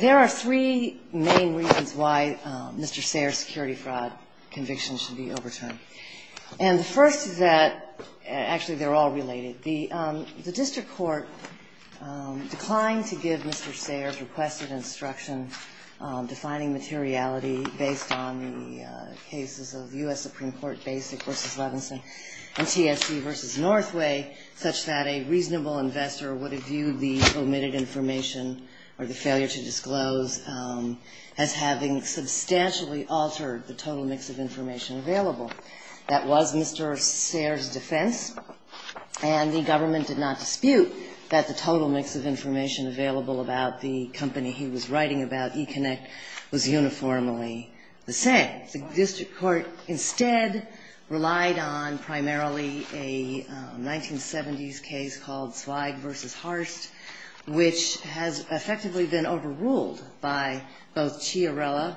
There are three main reasons why Mr. Sayre's security fraud conviction should be overturned. And the first is that, actually they're all related, the district court declined to give Mr. Sayre's requested instruction on defining materiality based on the cases of U.S. Supreme Court Basic v. Levinson and TSC v. Northway, such that a reasonable investor would have viewed the omitted information or the failure to disclose as having substantially altered the total mix of information available. That was Mr. Sayre's defense, and the government did not dispute that the total mix of information available about the company he was writing about, eConnect, was uniformly the same. The district court instead relied on primarily a 1970s case called Zweig v. Harst, which has effectively been overruled by both Chiarella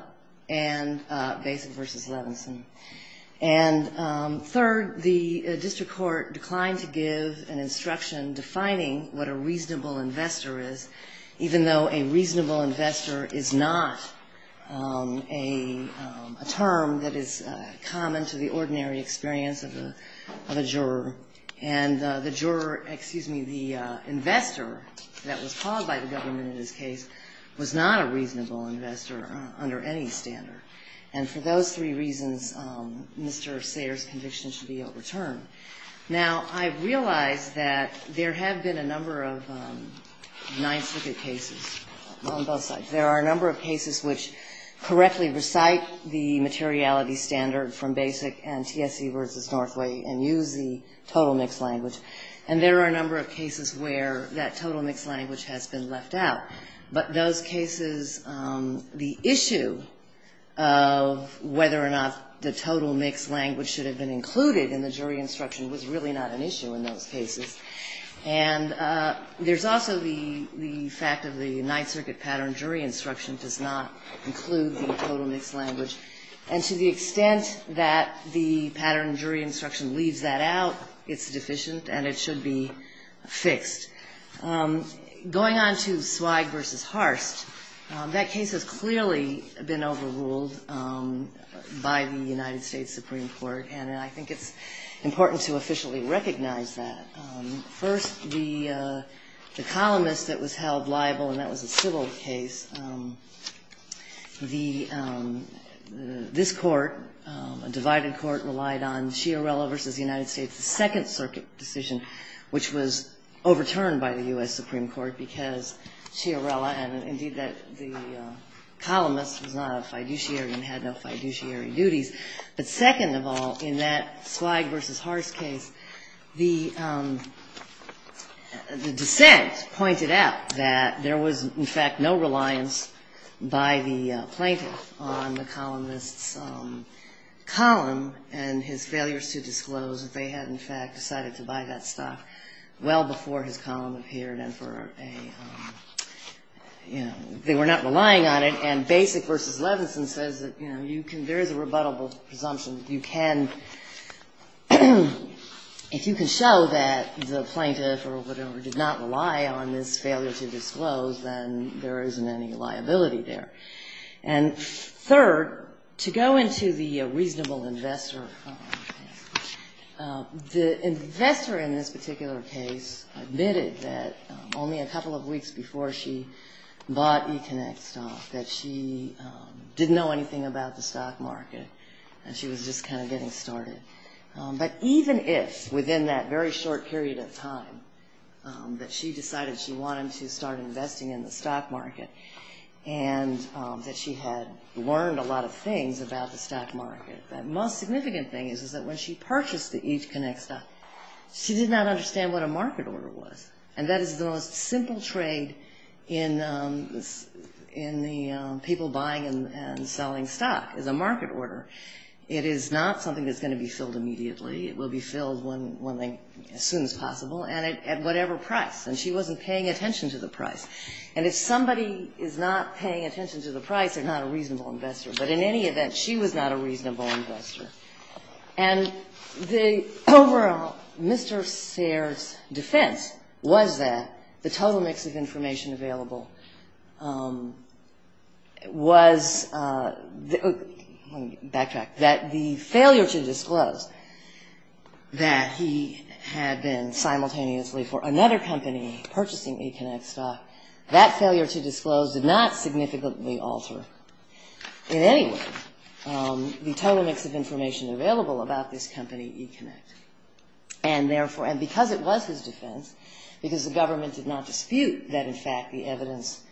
and Basic v. Levinson. And third, the district court declined to give an instruction defining what a reasonable investor is, even though a reasonable investor is not a term that is common to the ordinary experience of a juror. And the juror, excuse me, the investor that was called by the government in this case was not a reasonable investor under any standard. And for those three reasons, Mr. Sayre's conviction should be overturned. Now, I realize that there have been a number of Ninth Circuit cases on both sides. There are a number of cases which correctly recite the materiality standard from Basic and TSC v. Northway and use the total mix language. And there are a number of cases where that total mix language has been left out. But those cases, the issue of whether or not the total mix language should have been included in the jury instruction was really not an issue in those cases. And there's also the fact of the Ninth Circuit pattern jury instruction does not include the total mix language. And to the extent that the pattern jury instruction leaves that out, it's deficient and it should be fixed. Going on to Swig v. Harst, that case has clearly been overruled by the United States Supreme Court. And I think it's important to officially recognize that. First, the columnist that was held liable, and that was a civil case, this court, a divided court, relied on Supreme Court because Chiarella and, indeed, the columnist was not a fiduciary and had no fiduciary duties. But second of all, in that Swig v. Harst case, the dissent pointed out that there was, in fact, no reliance by the plaintiff on the columnist's column and his failures to disclose that they had, in fact, decided to buy that stuff well before his column appeared and for a, you know, they were not relying on it. And Basic v. Levinson says that, you know, you can, there is a rebuttable presumption that you can, if you can show that the plaintiff or whatever did not rely on this failure to disclose, then there isn't any liability there. And third, to go into the reasonable investor, the investor in this particular case admitted that only a couple of weeks before she bought eConnect stock that she didn't know anything about the stock market and she was just kind of getting started. But even if within that very short period of time that she decided she wanted to start investing in the stock market and that she had learned a lot of things about the stock market, the most significant thing is that when she purchased the eConnect stock, she did not understand what a market order was. And that is the most simple trade in the people buying and selling stock is a market order. It is not something that's going to be filled immediately. It will be filled as soon as possible and at whatever price. And she wasn't paying attention to the price. And if somebody is not paying attention to the price, they're not a reasonable investor. But in any event, she was not a reasonable investor. And the overall Mr. Sayre's defense was that the total mix of information available was the – let me backtrack – that failure to disclose did not significantly alter in any way the total mix of information available about this company, eConnect. And therefore – and because it was his defense, because the government did not dispute that in fact the evidence –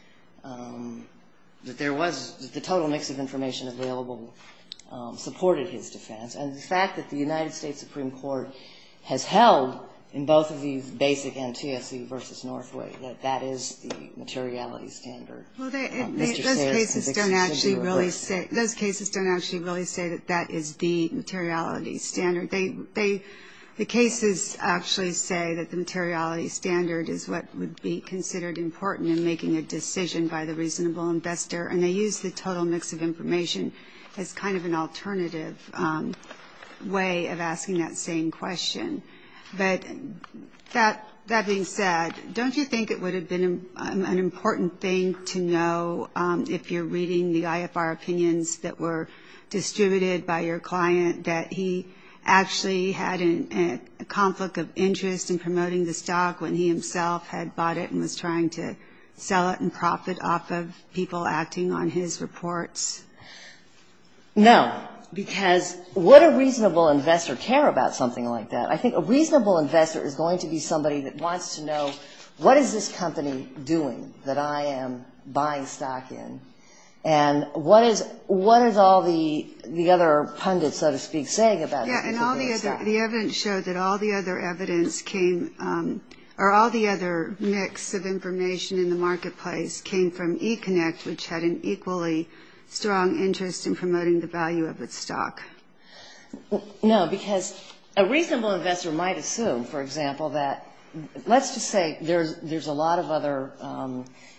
that there was the total mix of information available supported his defense. And the fact that the United States Supreme Court has held in both of these basic NTSC versus Northway that that is the materiality standard, Mr. Sayre's conviction should be reversed. Those cases don't actually really say that that is the materiality standard. The cases actually say that the materiality standard is what would be considered important in making a decision by the reasonable investor. And they use the total mix of information as kind of an alternative way of asking that same question. But that being said, don't you think it would have been an important thing to know, if you're reading the IFR opinions that were distributed by your client, that he actually had a conflict of interest in promoting the stock when he himself had bought it and was trying to sell it and profit off of people acting on his reports? No, because would a reasonable investor care about something like that? I think a reasonable investor is going to be somebody that wants to know, what is this company doing that I am buying stock in? And what is all the other pundits, so to speak, saying about it? Yeah, and all the other – the evidence showed that all the other evidence came – or all the other mix of information in the marketplace came from E-Connect, which had an equally strong interest in promoting the value of its stock. No, because a reasonable investor might assume, for example, that – let's just say there's a lot of other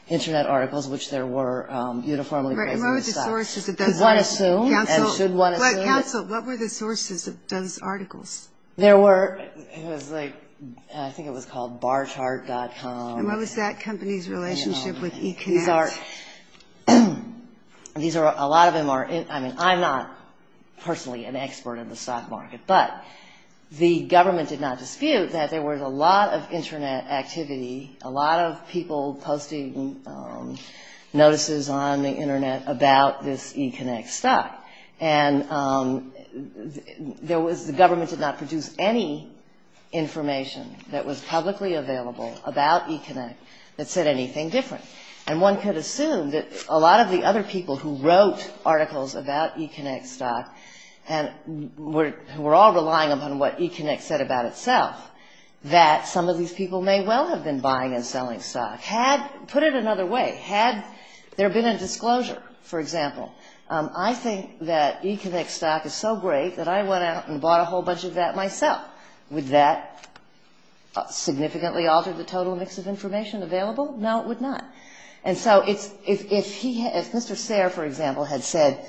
Internet articles which there were uniformly – What were the sources of those articles? Council, what were the sources of those articles? There were – I think it was called barchart.com. And what was that company's relationship with E-Connect? These are – a lot of them are – I mean, I'm not personally an expert in the stock market, but the government did not dispute that there was a lot of Internet activity, a lot of people posting notices on the Internet about this E-Connect stock. And there was – the government did not produce any information that was publicly available about E-Connect that said anything different. And one could assume that a lot of the other people who wrote articles about E-Connect stock and were all relying upon what E-Connect said about itself, that some of these people may well have been buying and selling stock. Put it another way, had there been a disclosure, for example, I think that E-Connect stock is so great that I went out and bought a whole bunch of that myself. Would that significantly alter the total mix of information available? No, it would not. And so if Mr. Sayre, for example, had said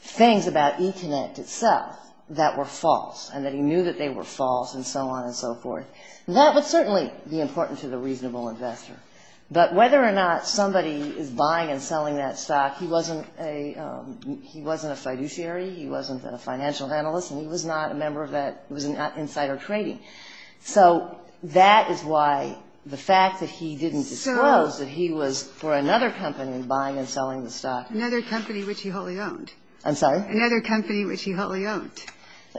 things about E-Connect itself that were false and that he knew that they were false and so on and so forth, that would certainly be important to the reasonable investor. But whether or not somebody is buying and selling that stock, he wasn't a fiduciary, he wasn't a financial analyst, and he was not a member of that – he was not insider trading. So that is why the fact that he didn't disclose that he was for another company buying and selling the stock. Another company which he wholly owned. I'm sorry? Another company which he wholly owned.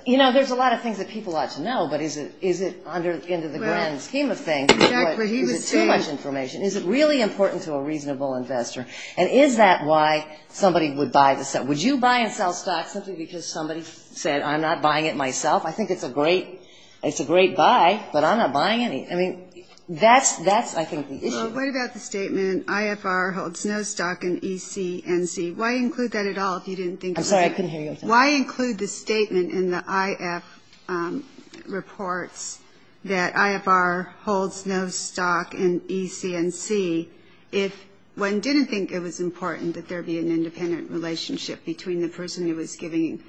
You know, there's a lot of things that people ought to know, but is it under the grand scheme of things? Is it too much information? Is it really important to a reasonable investor? And is that why somebody would buy the stock? Would you buy and sell stock simply because somebody said I'm not buying it myself? I think it's a great buy, but I'm not buying it. I mean, that's, I think, the issue. Well, what about the statement IFR holds no stock in E-C-N-C? Why include that at all if you didn't think it was important? I'm sorry, I couldn't hear you. Why include the statement in the IF reports that IFR holds no stock in E-C-N-C if one didn't think it was important that there be an independent relationship between the person who was giving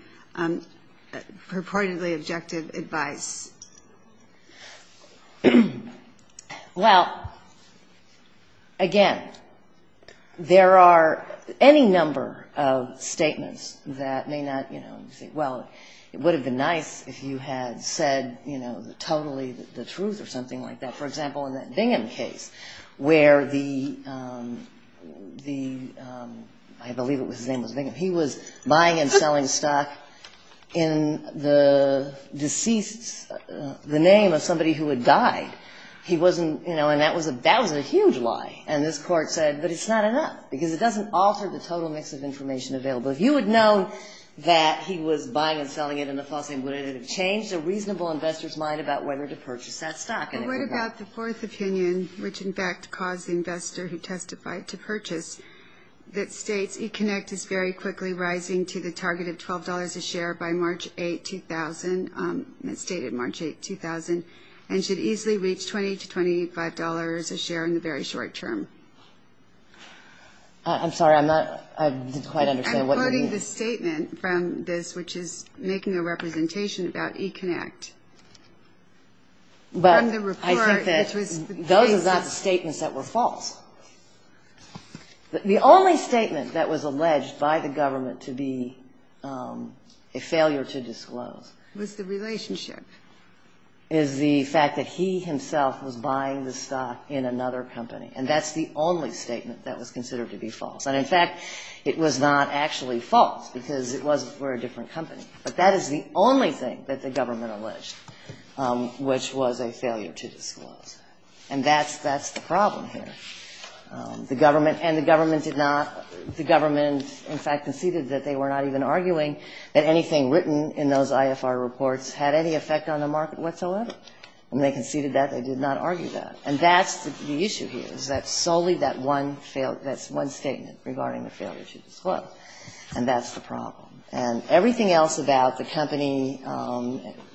purportedly objective advice? Well, again, there are any number of statements that may not, you know, say, well, it would have been nice if you had said, you know, totally the truth or something like that. For example, in that Bingham case where the, I believe his name was Bingham, he was buying and selling stock in the deceased's, the name of somebody who had died. He wasn't, you know, and that was a huge lie. And this court said, but it's not enough because it doesn't alter the total mix of information available. If you had known that he was buying and selling it in the false name, would it have changed a reasonable investor's mind about whether to purchase that stock? Well, what about the fourth opinion, which in fact caused the investor who testified to purchase, that states E-Connect is very quickly rising to the target of $12 a share by March 8, 2000, and it's dated March 8, 2000, and should easily reach $20 to $25 a share in the very short term? I'm sorry, I'm not, I didn't quite understand what you mean. I'm quoting the statement from this, which is making a representation about E-Connect. But I think that those are not statements that were false. The only statement that was alleged by the government to be a failure to disclose. Was the relationship. Is the fact that he himself was buying the stock in another company. And that's the only statement that was considered to be false. And in fact, it was not actually false because it was for a different company. But that is the only thing that the government alleged, which was a failure to disclose. And that's the problem here. The government, and the government did not, the government in fact conceded that they were not even arguing that anything written in those IFR reports had any effect on the market whatsoever. And they conceded that, they did not argue that. And that's the issue here, is that solely that one, that's one statement regarding the failure to disclose. And that's the problem. And everything else about the company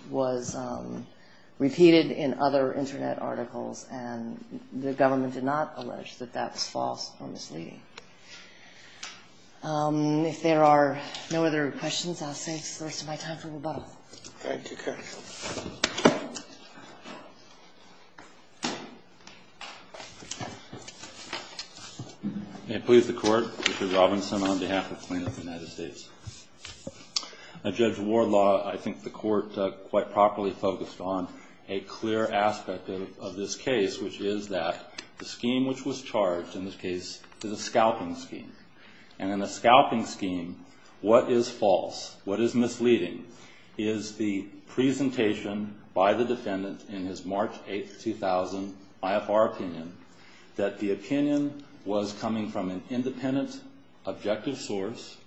was repeated in other internet articles. And the government did not allege that that was false or misleading. If there are no other questions, I'll save the rest of my time for rebuttal. Thank you, counsel. Thank you. May it please the court. Mr. Robinson on behalf of the plaintiff of the United States. Now, Judge Warlaw, I think the court quite properly focused on a clear aspect of this case, which is that the scheme which was charged in this case is a scalping scheme. And in a scalping scheme, what is false, what is misleading, is the presentation by the defendant in his March 8, 2000 IFR opinion, that the opinion was coming from an independent objective source,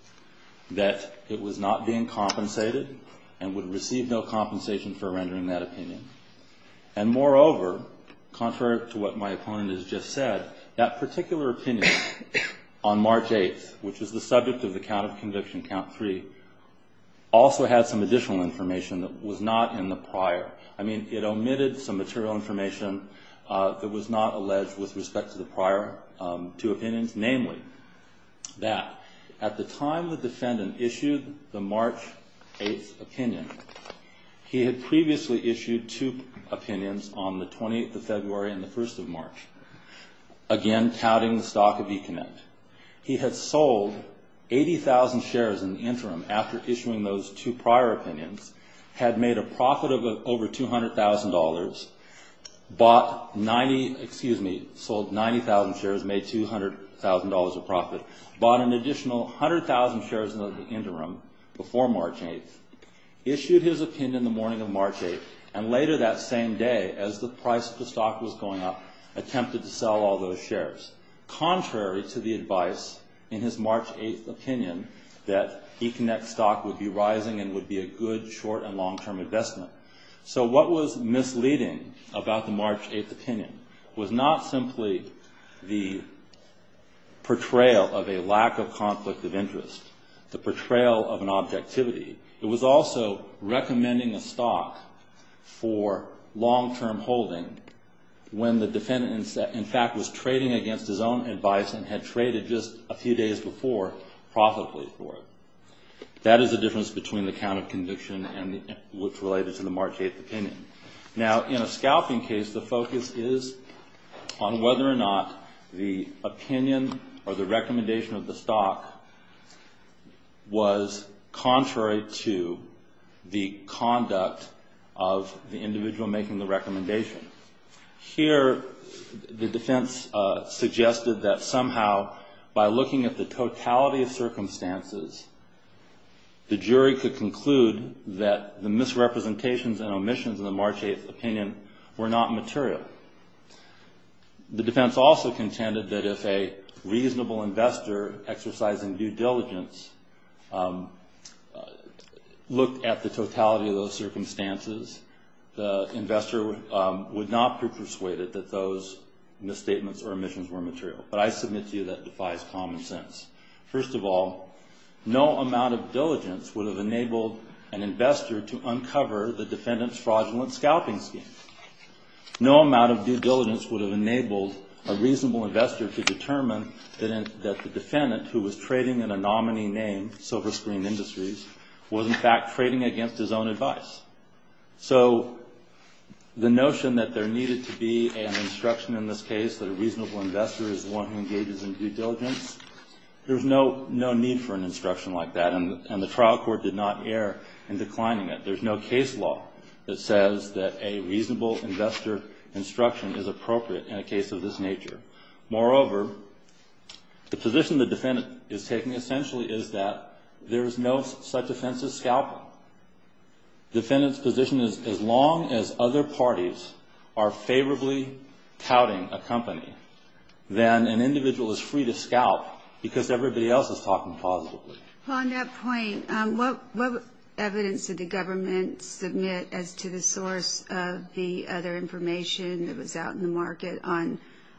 that it was not being compensated, and would receive no compensation for rendering that opinion. And moreover, contrary to what my opponent has just said, that particular opinion on March 8th, which is the subject of the count of conviction, count 3, also had some additional information that was not in the prior. I mean, it omitted some material information that was not alleged with respect to the prior two opinions. Namely, that at the time the defendant issued the March 8th opinion, he had previously issued two opinions on the 20th of February and the 1st of March. Again, counting the stock of Econet. He had sold 80,000 shares in the interim after issuing those two prior opinions, had made a profit of over $200,000, sold 90,000 shares, made $200,000 of profit, bought an additional 100,000 shares in the interim before March 8th, issued his opinion the morning of March 8th, and later that same day, as the price of the stock was going up, attempted to sell all those shares. Contrary to the advice in his March 8th opinion, that Econet stock would be rising and would be a good short and long-term investment. So what was misleading about the March 8th opinion was not simply the portrayal of a lack of conflict of interest, the portrayal of an objectivity. It was also recommending a stock for long-term holding when the defendant, in fact, was trading against his own advice and had traded just a few days before profitably for it. That is the difference between the count of conviction and what's related to the March 8th opinion. Now, in a scalping case, the focus is on whether or not the opinion or the recommendation of the stock was contrary to the conduct of the individual making the recommendation. Here, the defense suggested that somehow, by looking at the totality of circumstances, the jury could conclude that the misrepresentations and omissions in the March 8th opinion were not material. The defense also contended that if a reasonable investor exercising due diligence looked at the totality of those circumstances, the investor would not be persuaded that those misstatements or omissions were material. But I submit to you that defies common sense. First of all, no amount of diligence would have enabled an investor to uncover the defendant's fraudulent scalping scheme. No amount of due diligence would have enabled a reasonable investor to determine that the defendant, who was trading in a nominee name, Silver Screen Industries, was in fact trading against his own advice. So the notion that there needed to be an instruction in this case that a reasonable investor is the one who engages in due diligence, there's no need for an instruction like that, and the trial court did not err in declining it. There's no case law that says that a reasonable investor instruction is appropriate in a case of this nature. Moreover, the position the defendant is taking essentially is that there is no such offense as scalping. Defendant's position is as long as other parties are favorably touting a company, then an individual is free to scalp because everybody else is talking positively. Well, on that point, what evidence did the government submit as to the source of the other information that was out in the market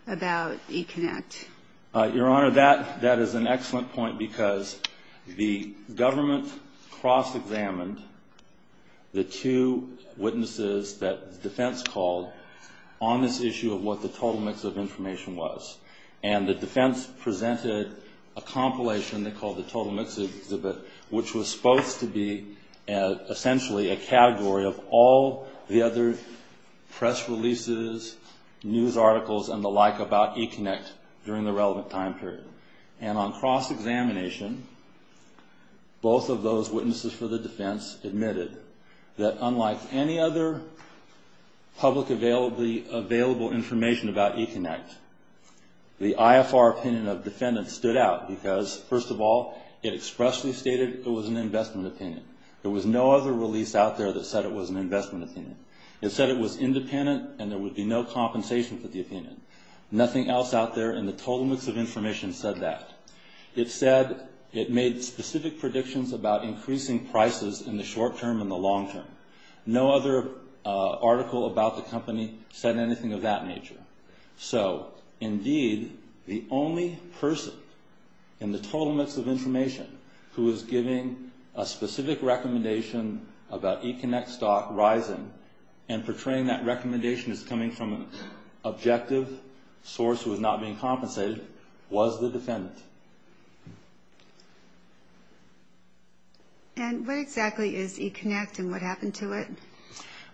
about eConnect? Your Honor, that is an excellent point because the government cross-examined the two witnesses that the defense called on this issue of what the total mix of information was, and the defense presented a compilation they called the Total Mix Exhibit, which was supposed to be essentially a category of all the other press releases, news articles, and the like about eConnect during the relevant time period. And on cross-examination, both of those witnesses for the defense admitted that unlike any other public available information about eConnect, the IFR opinion of defendants stood out because, first of all, it expressly stated it was an investment opinion. There was no other release out there that said it was an investment opinion. It said it was independent and there would be no compensation for the opinion. Nothing else out there in the Total Mix of Information said that. It said it made specific predictions about increasing prices in the short term and the long term. No other article about the company said anything of that nature. So, indeed, the only person in the Total Mix of Information who was giving a specific recommendation about eConnect stock rising and portraying that recommendation as coming from an objective source who was not being compensated was the defendant. And what exactly is eConnect and what happened to it?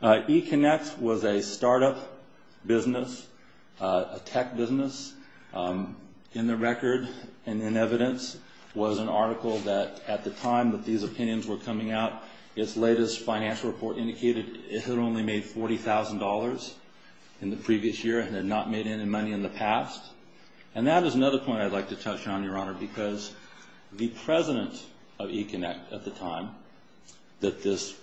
eConnect was a startup business, a tech business. In the record and in evidence was an article that at the time that these opinions were coming out, its latest financial report indicated it had only made $40,000 in the previous year and had not made any money in the past. And that is another point I'd like to touch on, Your Honor, because the president of eConnect at the time that this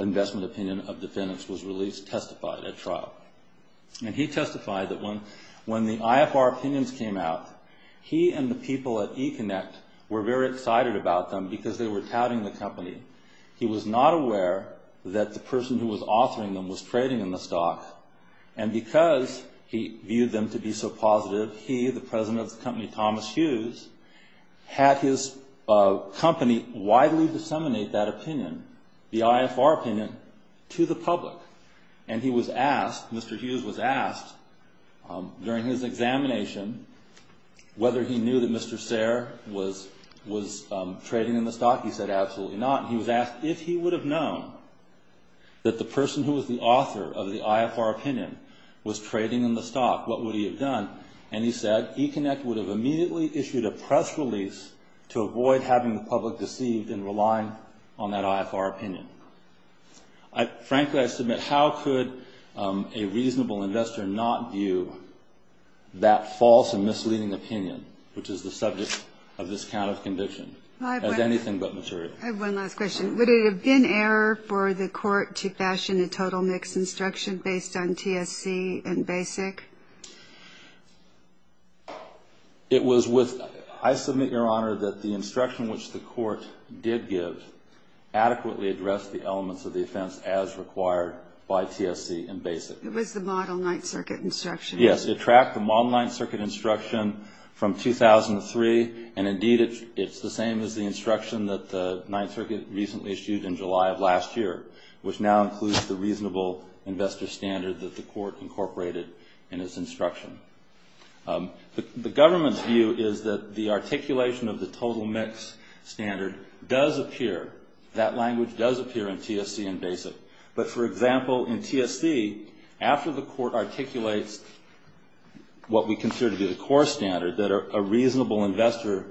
investment opinion of defendants was released testified at trial. And he testified that when the IFR opinions came out, he and the people at eConnect were very excited about them because they were touting the company. He was not aware that the person who was authoring them was trading in the stock. And because he viewed them to be so positive, he, the president of the company, Thomas Hughes, had his company widely disseminate that opinion, the IFR opinion, to the public. And he was asked, Mr. Hughes was asked during his examination whether he knew that Mr. Sayre was trading in the stock. He said, absolutely not. He was asked if he would have known that the person who was the author of the IFR opinion was trading in the stock, what would he have done? And he said, eConnect would have immediately issued a press release to avoid having the public deceived in relying on that IFR opinion. Frankly, I submit, how could a reasonable investor not view that false and misleading opinion, which is the subject of this kind of conviction, as anything but material? I have one last question. Would it have been error for the court to fashion a total mix instruction based on TSC and BASIC? It was with, I submit, Your Honor, that the instruction which the court did give adequately addressed the elements of the offense as required by TSC and BASIC. It was the model Ninth Circuit instruction. Yes, it tracked the model Ninth Circuit instruction from 2003, and indeed it's the same as the instruction that the Ninth Circuit recently issued in July of last year, which now includes the reasonable investor standard that the court incorporated in its instruction. The government's view is that the articulation of the total mix standard does appear, that language does appear in TSC and BASIC. But, for example, in TSC, after the court articulates what we consider to be the core standard, that a reasonable investor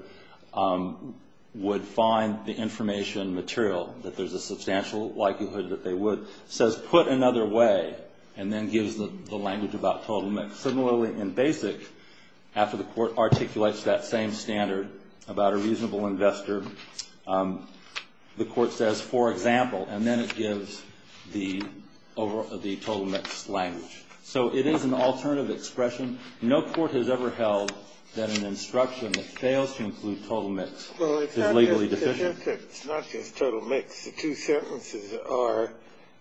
would find the information material, that there's a substantial likelihood that they would, says, put another way, and then gives the language about total mix. Similarly, in BASIC, after the court articulates that same standard about a reasonable investor, the court says, for example, and then it gives the total mix language. So it is an alternative expression. No court has ever held that an instruction that fails to include total mix is legally deficient. Well, it's not just total mix. The two sentences are,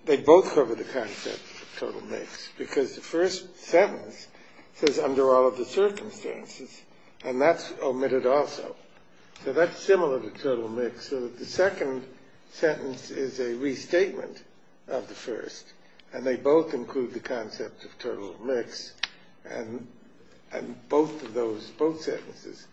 they both cover the concept of total mix, because the first sentence says, under all of the circumstances, and that's omitted also. So that's similar to total mix, so that the second sentence is a restatement of the first, and they both include the concept of total mix, and both of those, both sentences,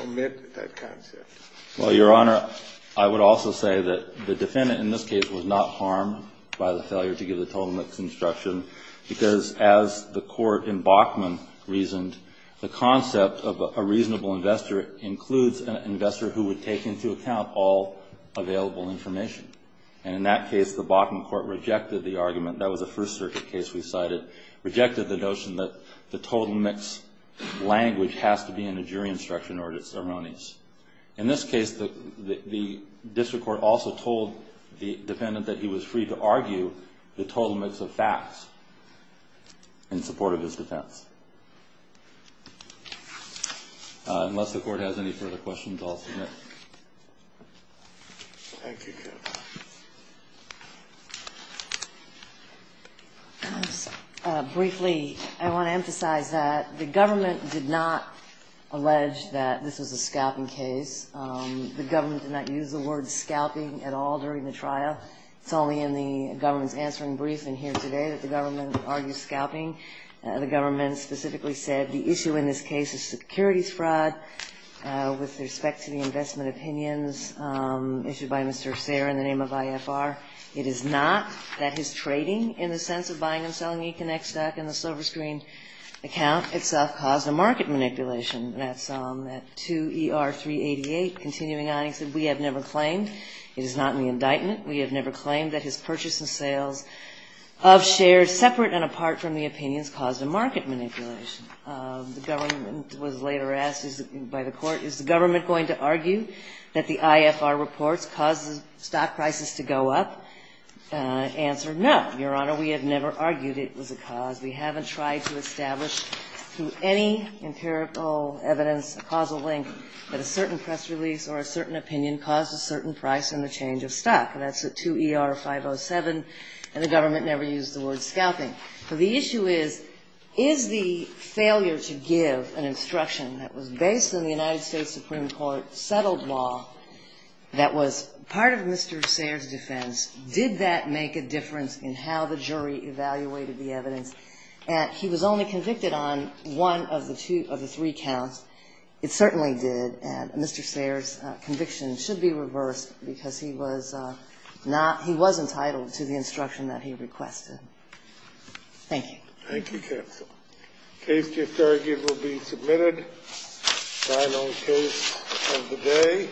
omit that concept. Well, Your Honor, I would also say that the defendant in this case was not harmed by the failure to give the total mix instruction, because as the court in Bachman reasoned, the concept of a reasonable investor includes an investor who would take into account all available information. And in that case, the Bachman court rejected the argument. That was a First Circuit case we cited, rejected the notion that the total mix language has to be in a jury instruction or it's erroneous. In this case, the district court also told the defendant that he was free to argue the total mix of facts in support of his defense. Unless the court has any further questions, I'll submit. Briefly, I want to emphasize that the government did not allege that this was a scalping case. The government did not use the word scalping at all during the trial. It's only in the government's answering briefing here today that the government argues scalping. The government specifically said the issue in this case is securities fraud with respect to the investment opinions issued by Mr. Sayre in the name of IFR. It is not that his trading in the sense of buying and selling E-Connect stock in the Silver Screen account itself caused a market manipulation. That's at 2ER388. Continuing on, he said, We have never claimed, it is not in the indictment, we have never claimed that his purchase and sales of shares separate and apart from the opinions caused a market manipulation. The government was later asked by the court, is the government going to argue that the IFR reports caused the stock prices to go up? Answer, no, Your Honor, we have never argued it was a cause. We haven't tried to establish through any empirical evidence a causal link that a certain press release or a certain opinion caused a certain price and a change of stock, and that's at 2ER507. And the government never used the word scalping. So the issue is, is the failure to give an instruction that was based on the United States Supreme Court settled law that was part of Mr. Sayre's defense, did that make a difference in how the jury evaluated the evidence? He was only convicted on one of the three counts. It certainly did. And Mr. Sayre's conviction should be reversed because he was not – he was entitled to the instruction that he requested. Thank you. Thank you, counsel. The case to be submitted, final case of the day.